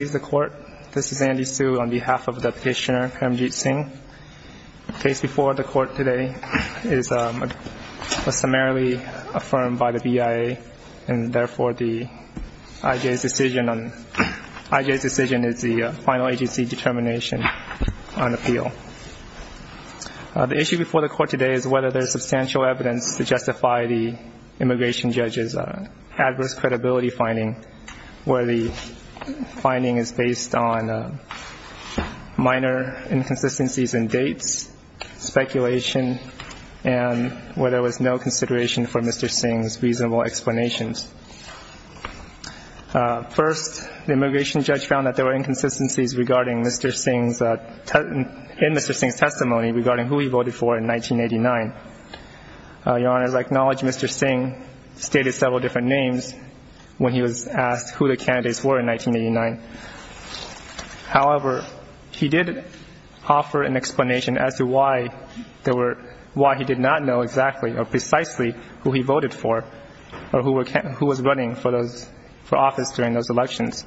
This is Andy Hsu on behalf of the petitioner Premjit Singh. The case before the court today is summarily affirmed by the BIA and therefore the IJ's decision is the final agency determination on appeal. The issue before the court today is whether there is substantial evidence to prove that Mr. Singh is based on minor inconsistencies in dates, speculation, and whether there was no consideration for Mr. Singh's reasonable explanations. First, the immigration judge found that there were inconsistencies in Mr. Singh's testimony regarding who he voted for in 1989. Your Honor, as I acknowledge, Mr. Singh stated several different names when he was asked who the candidates were in 1989. However, he did offer an explanation as to why he did not know exactly or precisely who he voted for or who was running for office during those elections.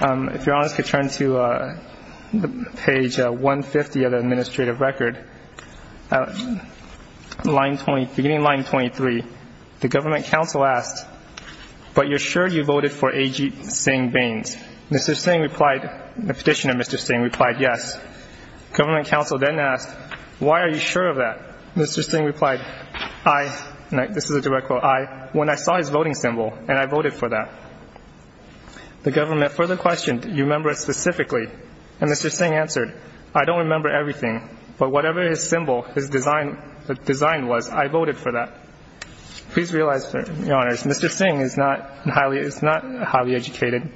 If Your Honor could turn to page 150 of the administrative record, beginning line 23, the government counsel asked, but you're sure you voted for A.G. Singh Baines? Mr. Singh replied, the petitioner Mr. Singh replied, yes. Government counsel then asked, why are you sure of that? Mr. Singh replied, I, this is a direct quote, I, when I saw his voting symbol and I voted for that. The government further questioned, you remember it specifically? And Mr. Singh answered, I don't remember everything, but whatever his symbol, his design was, I voted for that. Please realize, Your Honor, Mr. Singh is not highly educated.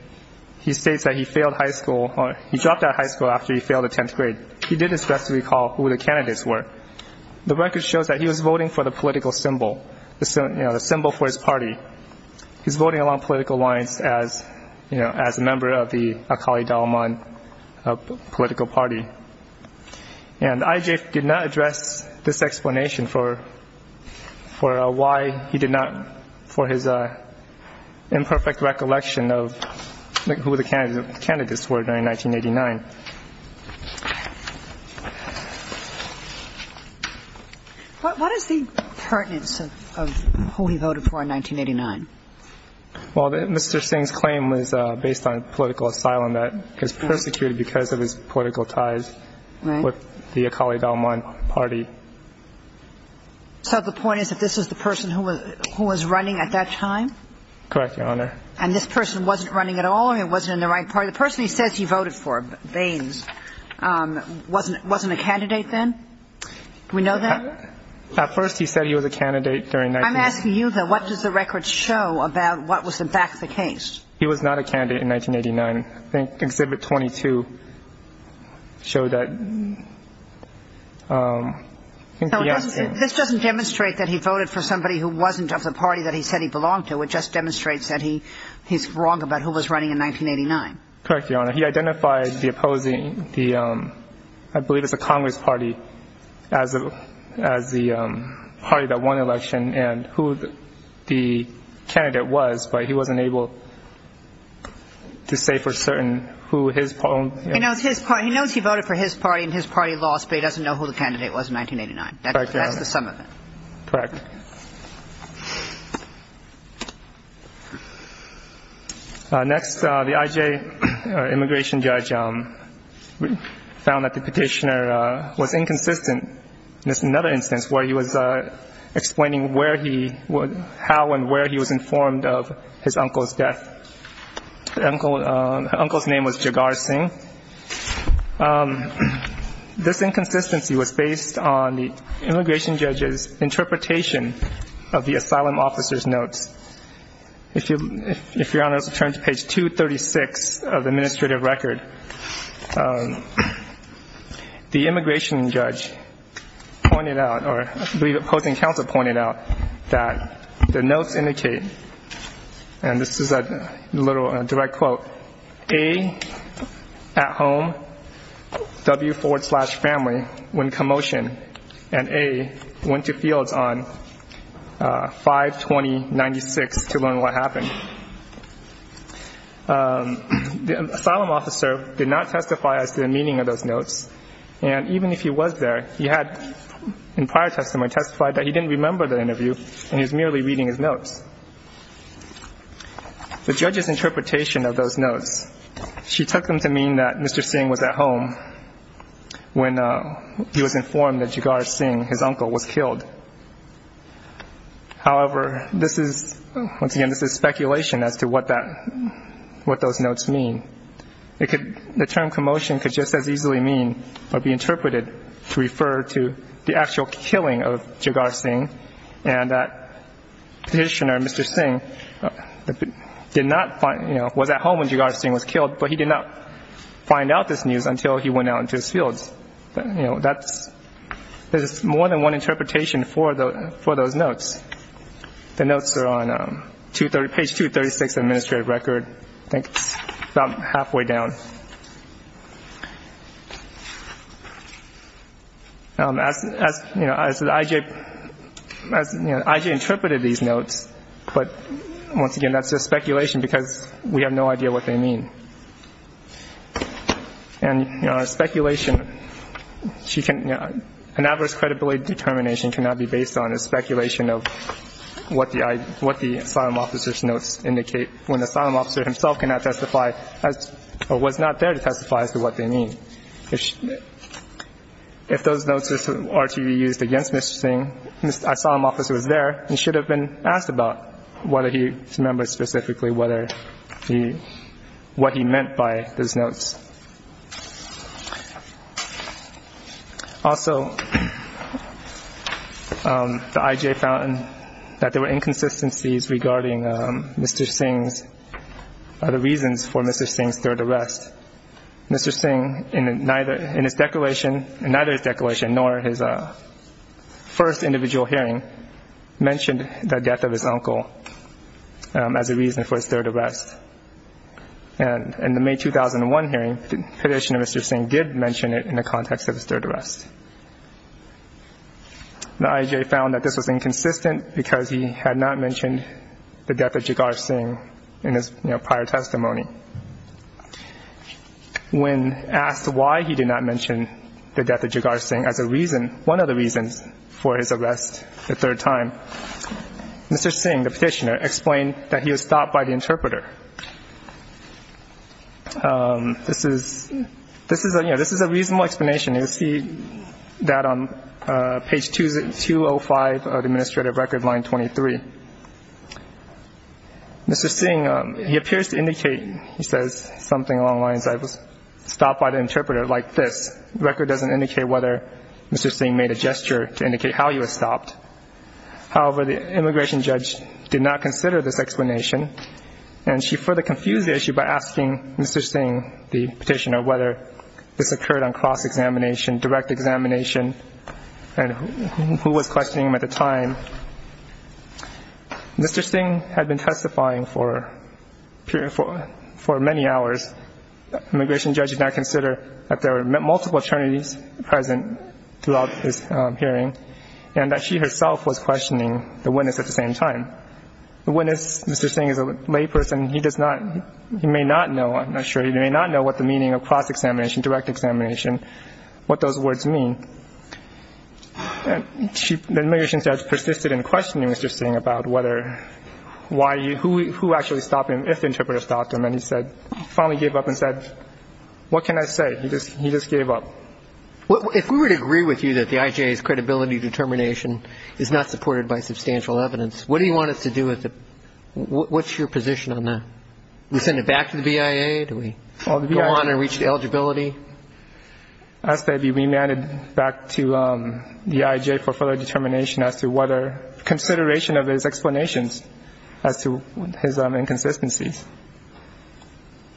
He states that he failed high school, he dropped out of high school after he failed the 10th grade. He did expressly recall who the candidates were. The record shows that he was voting for the political symbol, the symbol for his party. He's voting along political lines as a member of the Akali Dalai Lama political party. And I.G. did not address this explanation for why he did not, for his imperfect recollection of who the candidates were in 1989. What is the pertinence of who he voted for in 1989? Well, Mr. Singh's claim was based on political asylum that he was persecuted because of his political ties with the Akali Dalai Lama party. So the point is that this was the person who was running at that time? Correct, Your Honor. And this person wasn't running at all and wasn't in the right party. The person he says he voted for, Baines, wasn't a candidate then? Do we know that? At first he said he was a candidate during 1989. I'm asking you, though, what does the record show about what was, in fact, the case? He was not a candidate in 1989. I think Exhibit 22 showed that. This doesn't demonstrate that he voted for somebody who wasn't of the party that he said he belonged to. It just demonstrates that he's wrong about who was running in 1989. Correct, Your Honor. He identified the opposing, I believe it was the Congress party, as the party that won the election and who the candidate was, but he wasn't able to say for certain who his party was. He knows he voted for his party and his party lost, but he doesn't know who the candidate was in 1989. That's the sum of it. Correct, Your Honor. Next, the I.J. immigration judge found that the petitioner was inconsistent in another instance where he was explaining how and where he was informed of his uncle's death. The uncle's name was Jagar Singh. This inconsistency was based on the immigration judge's interpretation of the asylum officer's notes. If Your Honor, let's turn to page 236 of the administrative record. The immigration judge pointed out, or I believe the opposing counsel pointed out, that the notes indicate, and this is a direct quote, A, at home, W, forward slash, family, when he was informed that Jagar Singh, his uncle, was killed. The asylum officer did not testify as to the meaning of those notes, and even if he was there, he had in prior testimony testified that he didn't remember the interview and he was merely reading his notes. The judge's interpretation of those notes, she took them to mean that Mr. Singh was at home when he was informed that Jagar Singh, his uncle, was killed. However, this is, once again, this is speculation as to what that, what those notes mean. It could, the term commotion could just as easily mean, or be interpreted to refer to the actual killing of Jagar Singh, and that petitioner, Mr. Singh, did not find, you know, was at home when Jagar Singh was killed, but he did not find out this news until he went out into his fields. You know, that's, there's more than one interpretation for those notes. The notes are on page 236 of the administrative record, I think it's about halfway down. As, you know, as IJ, as IJ interpreted these notes, but once again, that's just speculation because we have no idea what they mean. And, you know, speculation, she can, you know, an adverse credibility determination cannot be based on a speculation of what the asylum officer's notes indicate when the asylum officer himself cannot testify as, or was not there to testify as to what they mean. If those notes are to be used against Mr. Singh, the asylum officer was there and should have been asked about whether he remembers specifically whether he, what he meant by those notes. Also, the IJ found that there were inconsistencies regarding Mr. Singh's, the reasons for Mr. Singh's third arrest. Mr. Singh, in neither, in his declaration, in neither his declaration nor his first individual hearing, mentioned the death of his uncle as a reason for his third arrest. And in the May 2001 hearing, Petitioner Mr. Singh did mention it in the context of his third arrest. The IJ found that this was inconsistent because he had not mentioned the death of Jagar Singh in his prior testimony. When asked why he did not mention the death of Jagar Singh as a reason, one of the reasons for his arrest the third time, Mr. Singh, the Petitioner, explained that he was stopped by the interpreter. This is, this is a, you know, this is a reasonable explanation. You'll see that on page 205 of the Administrative Record, line 23. Mr. Singh, he appears to indicate, he says something along the lines, I was stopped by the interpreter like this. The record doesn't indicate whether Mr. Singh made a gesture to indicate how he was stopped. However, the immigration judge did not consider this explanation, and she further confused the issue by asking Mr. Singh, the Petitioner, whether this occurred on cross examination, direct examination, and who was questioning him at the time. Mr. Singh had been testifying for many hours. The immigration judge did not consider that there were multiple attorneys present throughout his hearing, and that she herself was questioning the witness at the same time. The witness, Mr. Singh, is a layperson. He does not, he may not know, I'm not sure, he may not know what the meaning of cross examination, direct examination, what those words mean. The immigration judge persisted in questioning Mr. Singh about whether why he, who actually stopped him, if the interpreter stopped him, and he said, he finally gave up and said, what can I say? He just gave up. If we were to agree with you that the IJA's credibility determination is not supported by substantial evidence, what do you want us to do with it? What's your position on that? Do we send it back to the BIA? Do we go on and reach the eligibility? Ask that it be remanded back to the IJA for further determination as to whether consideration of his explanations as to his inconsistencies.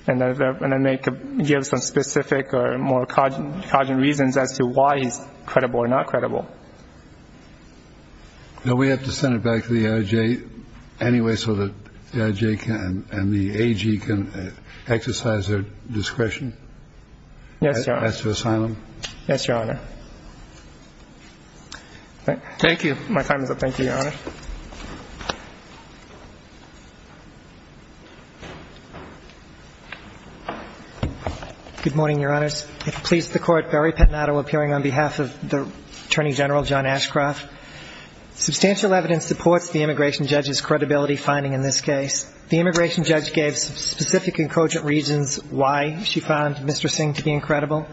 And then they could give some specific or more cogent reasons as to why he's credible or not credible. Now we have to send it back to the IJA anyway so that the IJA and the AG can exercise their discretion as to assign him? Yes, Your Honor. Thank you. My time is up. Thank you, Your Honor. Good morning, Your Honors. It pleases the Court, Barry Pettinato appearing on behalf of the Attorney General, John Ashcroft. Substantial evidence supports the immigration judge's credibility finding in this case. The immigration judge gave specific and cogent reasons why she found Mr. Singh to be incredible.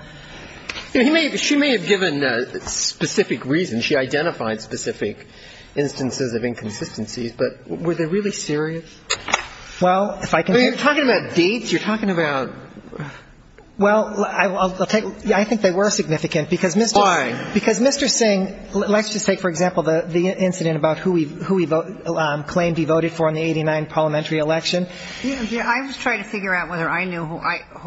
She may have given specific reasons. She identified specific instances of inconsistencies. But were they really serious? Well, if I can... You're talking about dates? You're talking about... Well, I'll take... I think they were significant because Mr. Singh... Why? Because Mr. Singh, let's just take, for example, the incident about who he claimed he voted for in the 89 parliamentary election. I was trying to figure out whether I knew who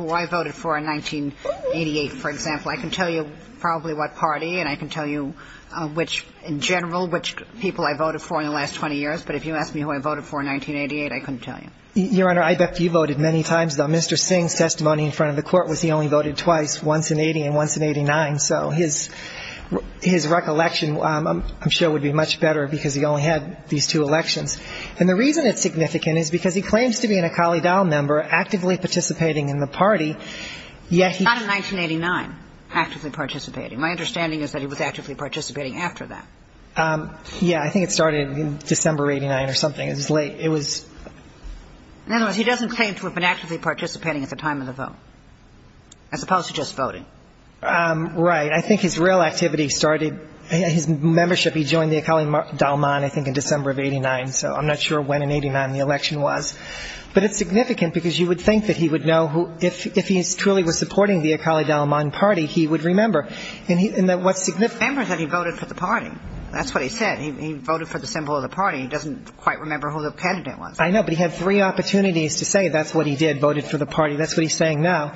I voted for in 1988, for example. I can tell you probably what party, and I can tell you which, in general, which people I voted for in the last 20 years. But if you ask me who I voted for in 1988, I couldn't tell you. Your Honor, I bet you voted many times, though. Mr. Singh's testimony in front of the Court was he only voted twice, once in 80 and once in 89. So his recollection, I'm sure, would be much better because he only had these two elections. And the reason it's significant is because he claims to be an Akali Dal member, actively participating in the party, yet he... Not in 1989, actively participating. My understanding is that he was actively participating after that. Yeah, I think it started in December of 89 or something. It was late. It was... In other words, he doesn't claim to have been actively participating at the time of the vote, as opposed to just voting. Right. I think his real activity started... His membership, he joined the Akali Dal Man, I think, in December of 89. So I'm not sure when in 89 the election was. But it's significant because you would think that he would know who... If he truly was supporting the Akali Dal Man party, he would remember. And what's significant... Remember that he voted for the party. That's what he said. He voted for the symbol of the party. He doesn't quite remember who the candidate was. I know, but he had three opportunities to say that's what he did, voted for the party. That's what he's saying now.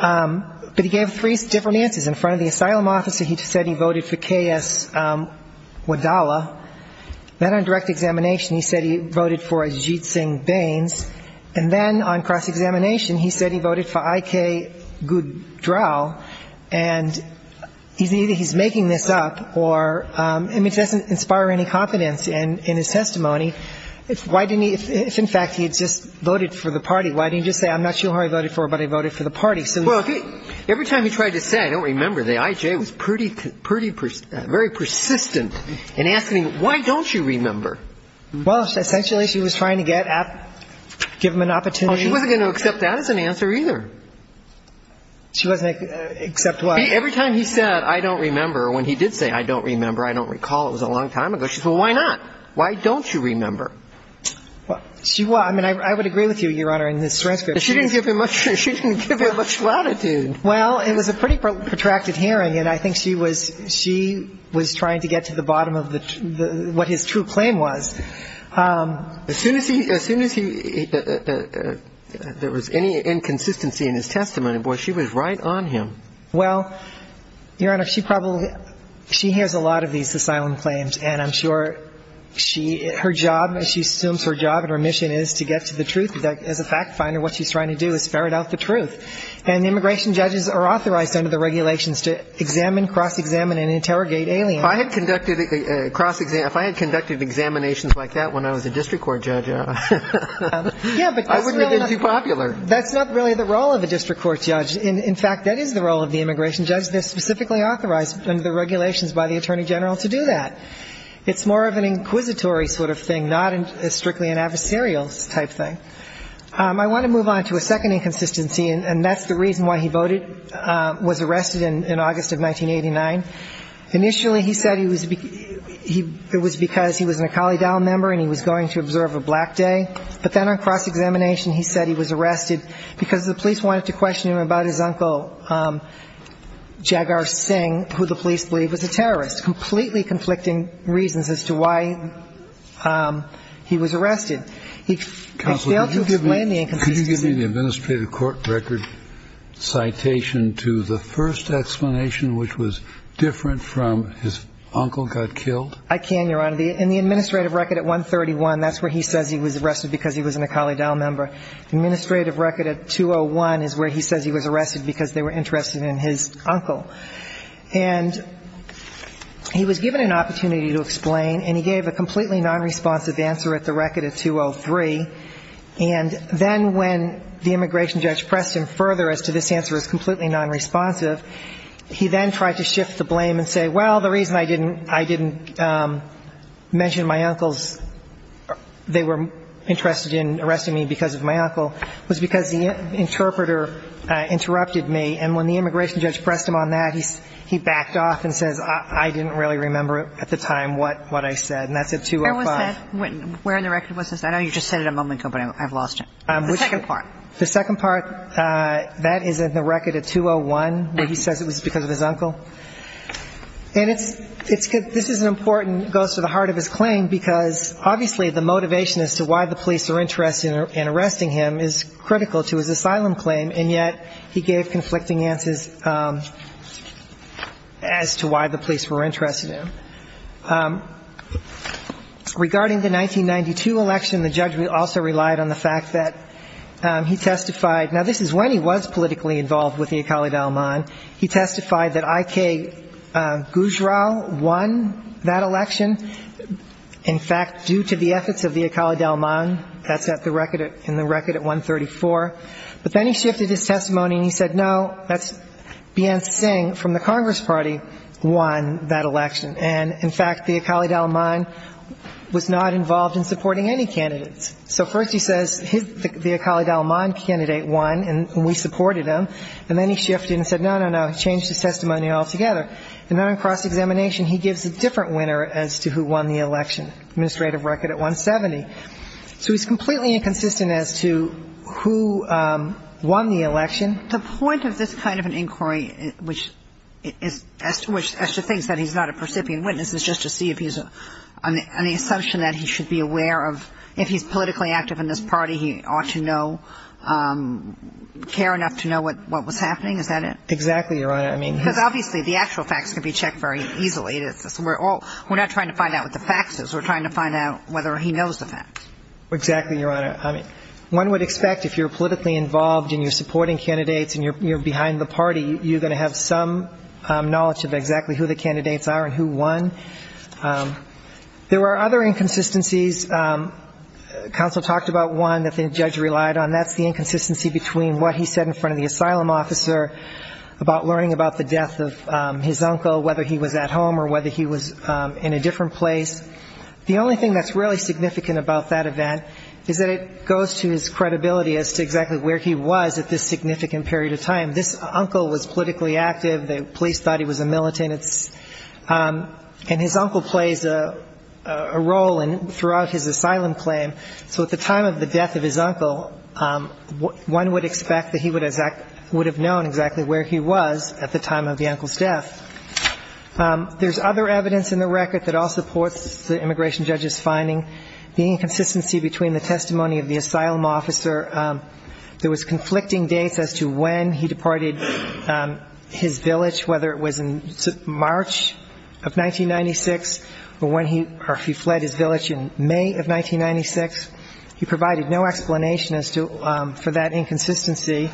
But he gave three different answers. In front of the asylum officer, he said he voted for K.S. Wadala. Then on direct examination, he said he voted for Ajit Singh Bains. And then on cross-examination, he said he voted for I.K. Goodrell. And he's... Either he's making this up or... And it doesn't inspire any confidence in his testimony. Why didn't he... If, in fact, he had just voted for the party, why didn't he just say, I'm not sure who I voted for, but I voted for the party? Well, if he... Every time he tried to say, I don't remember, I don't remember, the I.J. was pretty... Pretty... Very persistent in asking him, why don't you remember? Well, essentially, she was trying to get... Give him an opportunity... Oh, she wasn't going to accept that as an answer either. She wasn't going to accept what? Every time he said, I don't remember, or when he did say, I don't remember, I don't recall, it was a long time ago, she said, well, why not? Why don't you remember? Well, she... I mean, I would agree with you, Your Honor, in this transcript. She didn't give him much... She didn't give him much latitude. Well, it was a pretty protracted hearing, and I think she was... She was trying to get to the bottom of the... What his true claim was. As soon as he... As soon as he... There was any inconsistency in his testimony, boy, she was right on him. Well, Your Honor, she probably... She has a lot of these asylum claims, and I'm sure she... Her job, she assumes her job and her mission is to get to the truth. As a fact finder, what she's trying to do is ferret out the truth. And the immigration judges are authorized under the regulations to examine, cross-examine and interrogate aliens. If I had conducted cross-exam... If I had conducted examinations like that when I was a district court judge, I wouldn't have been too popular. Yeah, but that's not really the role of a district court judge. In fact, that is the role of the immigration judge. They're specifically authorized under the regulations by the Attorney General to do that. It's more of an inquisitory sort of thing, not strictly an adversarial type thing. I want to move on to a second inconsistency, and that's the reason why he voted... Was arrested in August of 1989. Initially, he said he was... It was because he was an Akali Dowell member and he was going to observe a black day. But then on cross-examination, he said he was arrested because the police wanted to question him about his uncle, Jagar Singh, who the police believe was a terrorist. Completely conflicting reasons as to why he was arrested. Could you give me the administrative court record citation to the first explanation, which was different from his uncle got killed? I can, Your Honor. In the administrative record at 131, that's where he says he was arrested because he was an Akali Dowell member. The administrative record at 201 is where he says he was arrested because they were interested in his uncle. And he was given an opportunity to explain, and he gave a completely non-responsive answer at 203. And then when the immigration judge pressed him further as to this answer as completely non-responsive, he then tried to shift the blame and say, well, the reason I didn't mention my uncle's... They were interested in arresting me because of my uncle was because the interpreter interrupted me. And when the immigration judge pressed him on that, he backed off and says, I didn't really remember at the time what I said. And that's at 205. I know you just said it a moment ago, but I've lost it. The second part. The second part, that is in the record at 201, where he says it was because of his uncle. And it's good. This is an important, goes to the heart of his claim, because obviously the motivation as to why the police were interested in arresting him is critical to his asylum claim, and yet he gave conflicting answers as to why the police were interested in him. Regarding the 1992 election, the judge also relied on the fact that he testified. Now, this is when he was politically involved with the Akali Dalman. He testified that I.K. Gujral won that election. In fact, due to the efforts of the Akali Dalman, that's in the record at 134. But then he shifted his testimony and he said, no, that's B.N. Singh from the Congress Party won that election. And in fact, the Akali Dalman was not involved in supporting any candidates. So first he says the Akali Dalman candidate won, and we supported him. And then he shifted and said, no, no, no, he changed his testimony altogether. And then on cross-examination, he gives a different winner as to who won the election. Administrative record at 170. So he's completely inconsistent as to who won the election. The point of this kind of an inquiry, as to the fact that he's not a recipient witness, is just to see if he's on the assumption that he should be aware of, if he's politically active in this party, he ought to know, care enough to know what was happening. Is that it? Exactly, Your Honor. I mean... Because obviously the actual facts can be checked very easily. We're not trying to find out what the fact is. We're trying to find out whether he knows the facts. Exactly, Your Honor. I mean, one would expect if you're politically involved and you're supporting candidates and you're behind the party, you're going to have some knowledge of exactly who the candidates are and who won. There were other inconsistencies. Counsel talked about one that the judge relied on. That's the inconsistency between what he said in front of the asylum officer about learning about the death of his uncle, whether he was at home or whether he was in a different place. The only thing that's really significant about that event is that it goes to his credibility as to exactly where he was at this significant period of time. He's politically active. The police thought he was a militant. And his uncle plays a role throughout his asylum claim. So at the time of the death of his uncle, one would expect that he would have known exactly where he was at the time of the uncle's death. There's other evidence in the record that all supports the immigration judge's finding. The inconsistency between the testimony of the asylum officer. There was conflicting dates as to when he deported his village, whether it was in March of 1996 or when he fled his village in May of 1996. He provided no explanation for that inconsistency.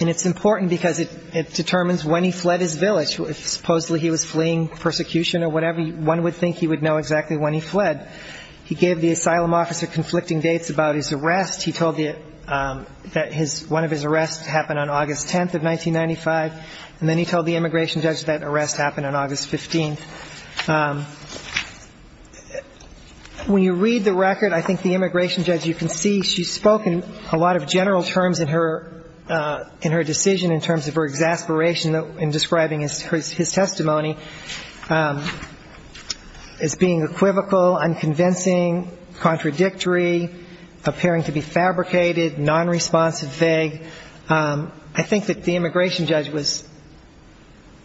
And it's important because it determines when he fled his village. Supposedly he was fleeing persecution or whatever. One would think he would know exactly when he fled. He gave the asylum officer conflicting dates about his arrest. He told that one of his arrests happened on August 10th of 1995. And then he told the immigration judge that arrest happened on August 15th. When you read the record, I think the immigration judge, you can see she's spoken a lot of general terms in her decision in terms of her exasperation in describing his testimony as being equivocal, unconvincing, contradictory, appearing to be fabricated, nonresponsive, vague. I think that the immigration judge was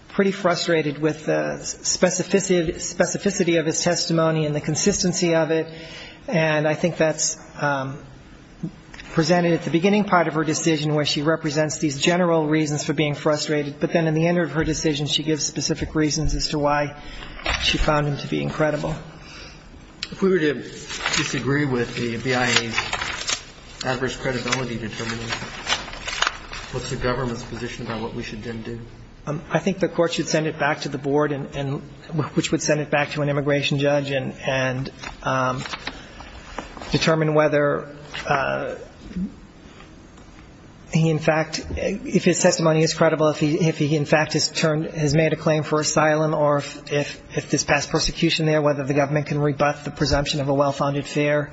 pretty frustrated with the specificity of his testimony and the consistency of it. And I think that's presented at the beginning part of her decision where she represents these general reasons for being frustrated. But then in the end of her decision, she gives specific reasons as to why she found him to be incredible. If we were to disagree with the BIA's adverse credibility determination, what's the government's position about what we should then do? I think the court should send it back to the board, which would send it back to an immigration judge and determine whether he in fact if his testimony is credible, if he in fact has turned has made a claim for asylum or if this past persecution there, whether the government can rebut the presumption of a well-founded fear.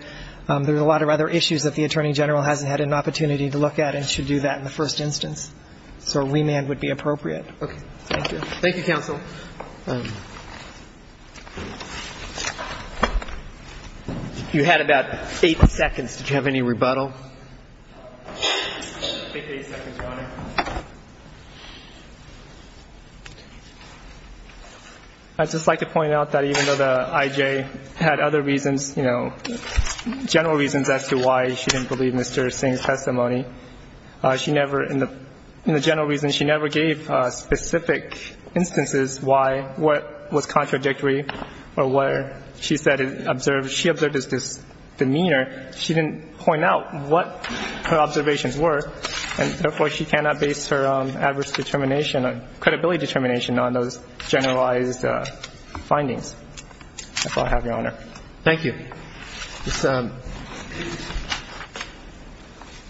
There's a lot of other issues that the Attorney General hasn't had an opportunity to look at and should do that in the first instance. So a remand would be appropriate. Thank you. Thank you, counsel. You had about eight seconds. Did you have any rebuttal? I think eight seconds, Your Honor. I'd just like to point out that even though the I.J. had other reasons, general reasons as to why she didn't believe Mr. Singh's testimony, in the general reason she never gave specific instances why what was contradictory or where she said she observed his demeanor, she didn't point out what her observations were. And therefore, she cannot give any rebuttal. She cannot base her adverse determination, credibility determination on those generalized findings. That's all I have, Your Honor. Thank you. This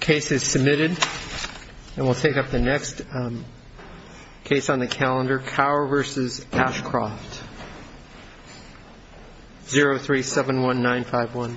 case is submitted and we'll take up the next case on the calendar, Cower v. Ashcroft, 0371951.